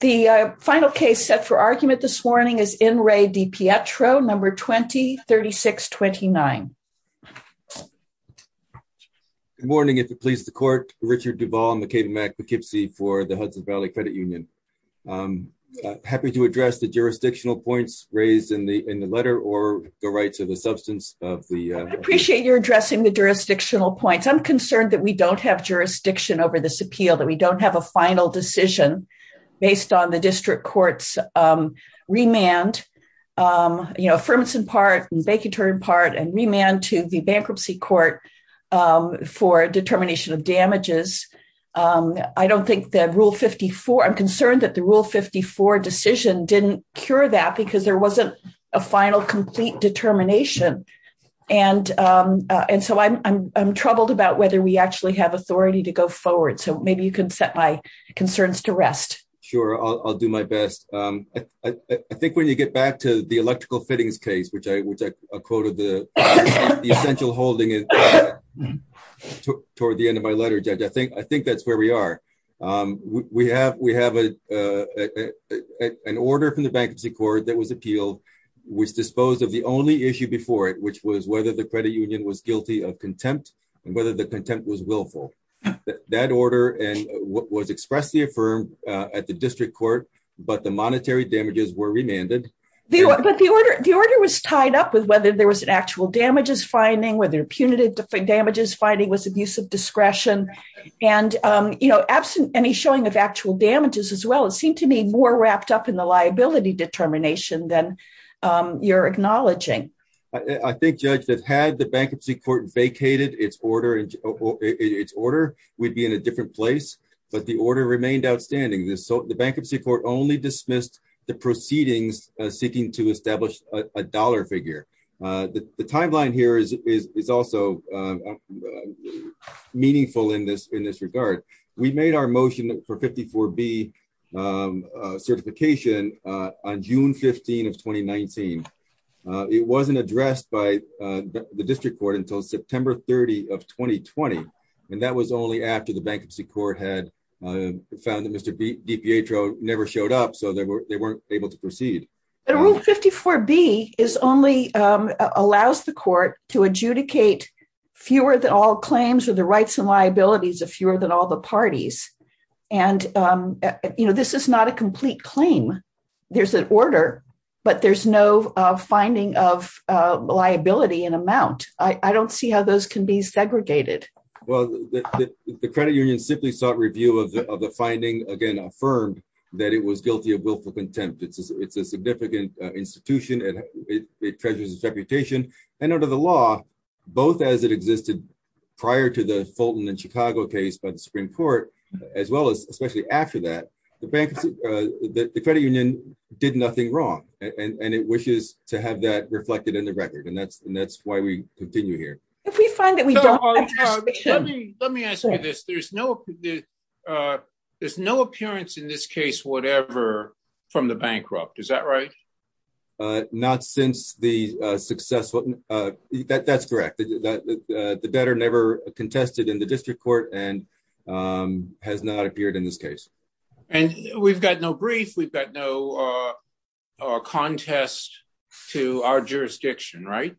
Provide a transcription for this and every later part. The final case set for argument this morning is N. Ray DiPietro, number 20-3629. Good morning, if it pleases the court. Richard Duvall, McCabe-Mack Poughkeepsie for the Hudson Valley Credit Union. I'm happy to address the jurisdictional points raised in the in the letter or go right to the substance of the... I would appreciate your addressing the jurisdictional points. I'm concerned that we don't have jurisdiction over this appeal, that we don't have a final decision based on the district court's remand, you know, affirmance in part, vacatory in part, and remand to the bankruptcy court for determination of damages. I don't think that Rule 54... I'm concerned that the Rule 54 decision didn't cure that because there wasn't a final, complete determination. And so I'm troubled about whether we actually have authority to go forward. So maybe you can set my concerns to rest. Sure, I'll do my best. I think when you get back to the electrical fittings case, which I quoted the essential holding toward the end of my letter, Judge, I think that's where we are. We have an order from the bankruptcy court that was appealed, which disposed of the only issue before it, which was whether the that order was expressly affirmed at the district court, but the monetary damages were remanded. But the order was tied up with whether there was an actual damages finding, whether punitive damages finding was abuse of discretion, and, you know, absent any showing of actual damages as well, it seemed to me more wrapped up in the liability determination than you're we'd be in a different place, but the order remained outstanding. The bankruptcy court only dismissed the proceedings seeking to establish a dollar figure. The timeline here is also meaningful in this regard. We made our motion for 54B certification on June 15 of 2019. It wasn't addressed by the district court until September 30 of 2020, and that was only after the bankruptcy court had found that Mr. DiPietro never showed up, so they weren't able to proceed. But rule 54B is only, allows the court to adjudicate fewer than all claims or the rights and liabilities of fewer than all the parties, and, you know, this is not a complete claim. There's an order, but there's no finding of liability in amount. I don't see how those can be segregated. Well, the credit union simply sought review of the finding, again, affirmed that it was guilty of willful contempt. It's a significant institution and it treasures its reputation, and under the law, both as it existed prior to the Fulton and Chicago case by the Supreme Court, as well as especially after that, the credit union did nothing wrong, and it wishes to have that reflected in the record, and that's why we continue here. Let me ask you this. There's no appearance in this case whatever from the bankrupt, is that right? Not since the contested in the district court and has not appeared in this case. And we've got no brief, we've got no contest to our jurisdiction, right?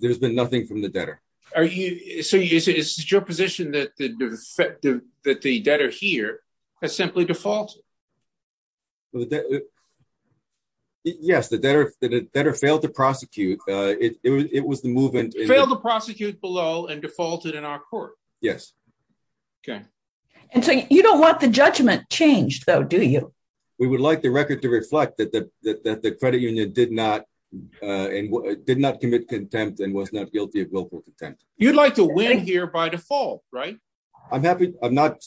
There's been nothing from the debtor. Are you, so is it your position that the debtor here has simply defaulted? Well, yes, the debtor failed to prosecute. It was the movement. Failed to prosecute below and defaulted in our court. Yes. Okay. And so you don't want the judgment changed though, do you? We would like the record to reflect that the credit union did not commit contempt and was not guilty of willful contempt. You'd like to win here by default, right? I'm happy, I'm not,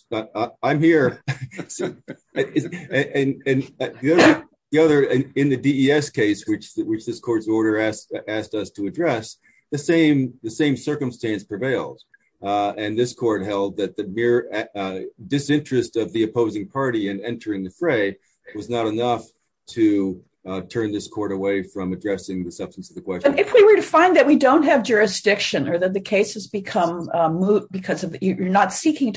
I'm here. And the other, in the DES case, which this court's order asked us to address, the same circumstance prevailed. And this court held that the mere disinterest of the opposing party in entering the fray was not enough to turn this court away from addressing the substance of the question. If we were to find that we don't have seeking to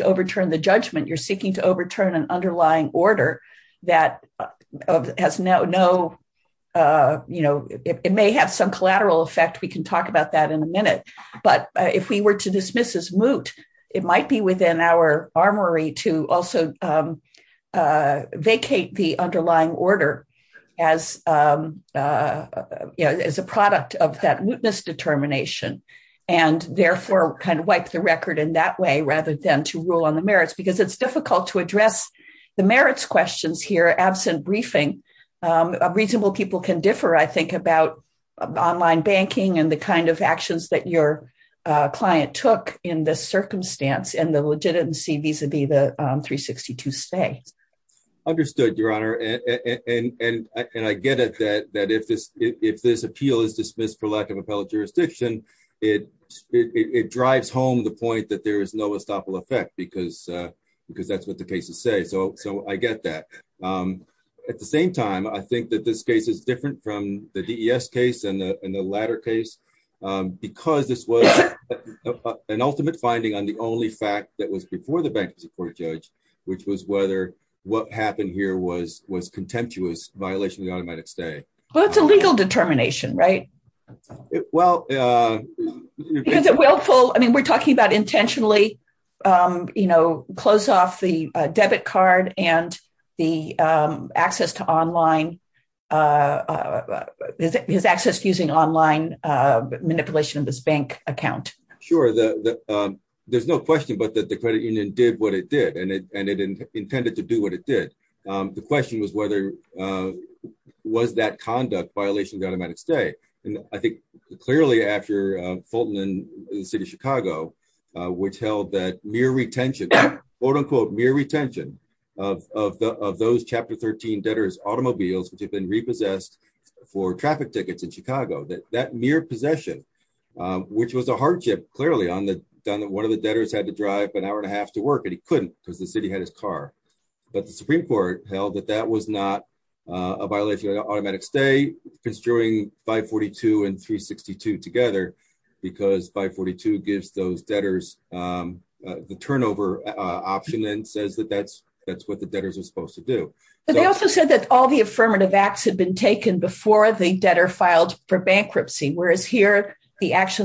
overturn the judgment, you're seeking to overturn an underlying order that has no, it may have some collateral effect. We can talk about that in a minute. But if we were to dismiss as moot, it might be within our armory to also vacate the underlying order as a product of that mootness determination and therefore kind of wipe the record in that way rather than to rule on the merits. Because it's difficult to address the merits questions here absent briefing. Reasonable people can differ, I think, about online banking and the kind of actions that your client took in this circumstance and the legitimacy vis-a-vis the 362 stay. Understood, Your Honor. And I get it that if this appeal is dismissed for lack of appellate jurisdiction, it drives home the point that there is no estoppel effect because that's what the cases say. So I get that. At the same time, I think that this case is different from the DES case and the latter case because this was an ultimate finding on the only fact that was before the banking support judge, which was whether what happened here was contemptuous violation of the automatic stay. Well, it's a legal determination, right? Well, it's a willful, I mean, we're talking about intentionally, you know, close off the debit card and the access to online, his access using online manipulation of this bank account. Sure. There's no question but that the credit union did what it did and it intended to do what it did. The question was whether was that conduct violation of the automatic stay? And I think clearly after Fulton and the city of Chicago, which held that mere retention, quote unquote, mere retention of those chapter 13 debtors' automobiles, which had been repossessed for traffic tickets in Chicago, that mere possession, which was a hardship clearly on the one of the debtors had to drive an hour and a half to work and he couldn't because the city had his car. But the Supreme Court held that that was not a violation of automatic stay, construing 542 and 362 together because 542 gives those debtors the turnover option and says that that's what the debtors are supposed to do. But they also said that all the affirmative acts had been taken before the debtor filed for bankruptcy, whereas here the after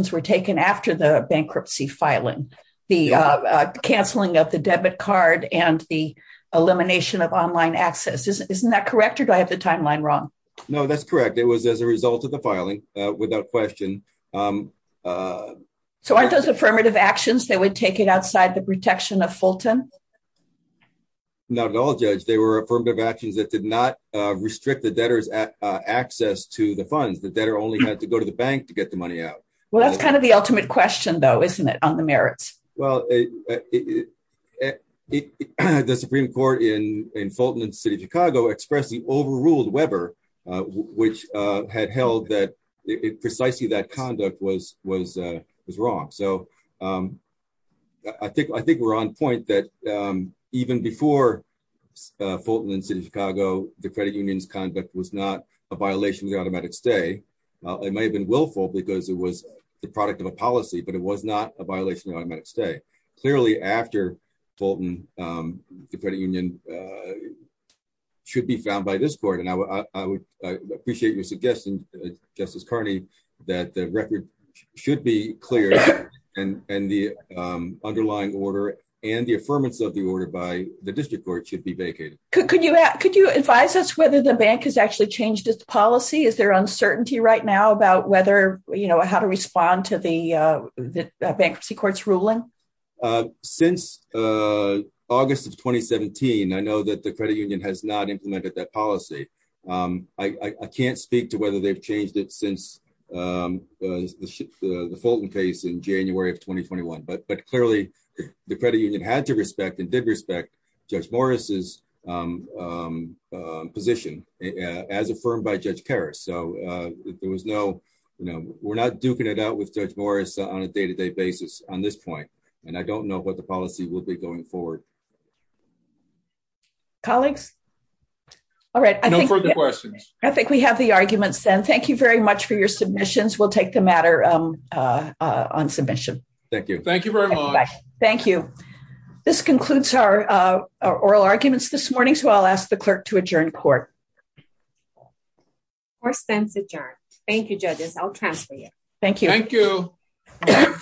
the bankruptcy filing, the canceling of the debit card and the elimination of online access. Isn't that correct or do I have the timeline wrong? No, that's correct. It was as a result of the filing without question. So aren't those affirmative actions that would take it outside the protection of Fulton? Not at all, Judge. They were affirmative actions that did not restrict the debtors' access to the funds. The debtor only had to go to the bank to get the ultimate question, though, isn't it, on the merits? Well, the Supreme Court in Fulton and City of Chicago expressed the overruled Weber, which had held that precisely that conduct was wrong. So I think we're on point that even before Fulton and City of Chicago, the credit union's conduct was not a violation of the automatic stay. It may have been willful because it was the product of a policy, but it was not a violation of automatic stay. Clearly after Fulton, the credit union should be found by this court. And I would appreciate your suggestion, Justice Carney, that the record should be clear and the underlying order and the affirmance of the order by the district court should be vacated. Could you advise us whether the bank has actually changed its policy? Is there uncertainty right now about whether, how to respond to the bankruptcy court's ruling? Since August of 2017, I know that the credit union has not implemented that policy. I can't speak to whether they've changed it since the Fulton case in January of 2021, but clearly the credit union had to respect and did respect Judge Morris's position as affirmed by Judge Karras. So there was no, we're not duking it out with Judge Morris on a day-to-day basis on this point. And I don't know what the policy will be going forward. Colleagues? All right. No further questions. I think we have the arguments then. Thank you very much for your submissions. We'll take the matter on submission. Thank you. Thank you very much. Thank you. This concludes our oral arguments this morning. So I'll ask the clerk to adjourn court. Court stands adjourned. Thank you, judges. I'll transfer you. Thank you. Thank you.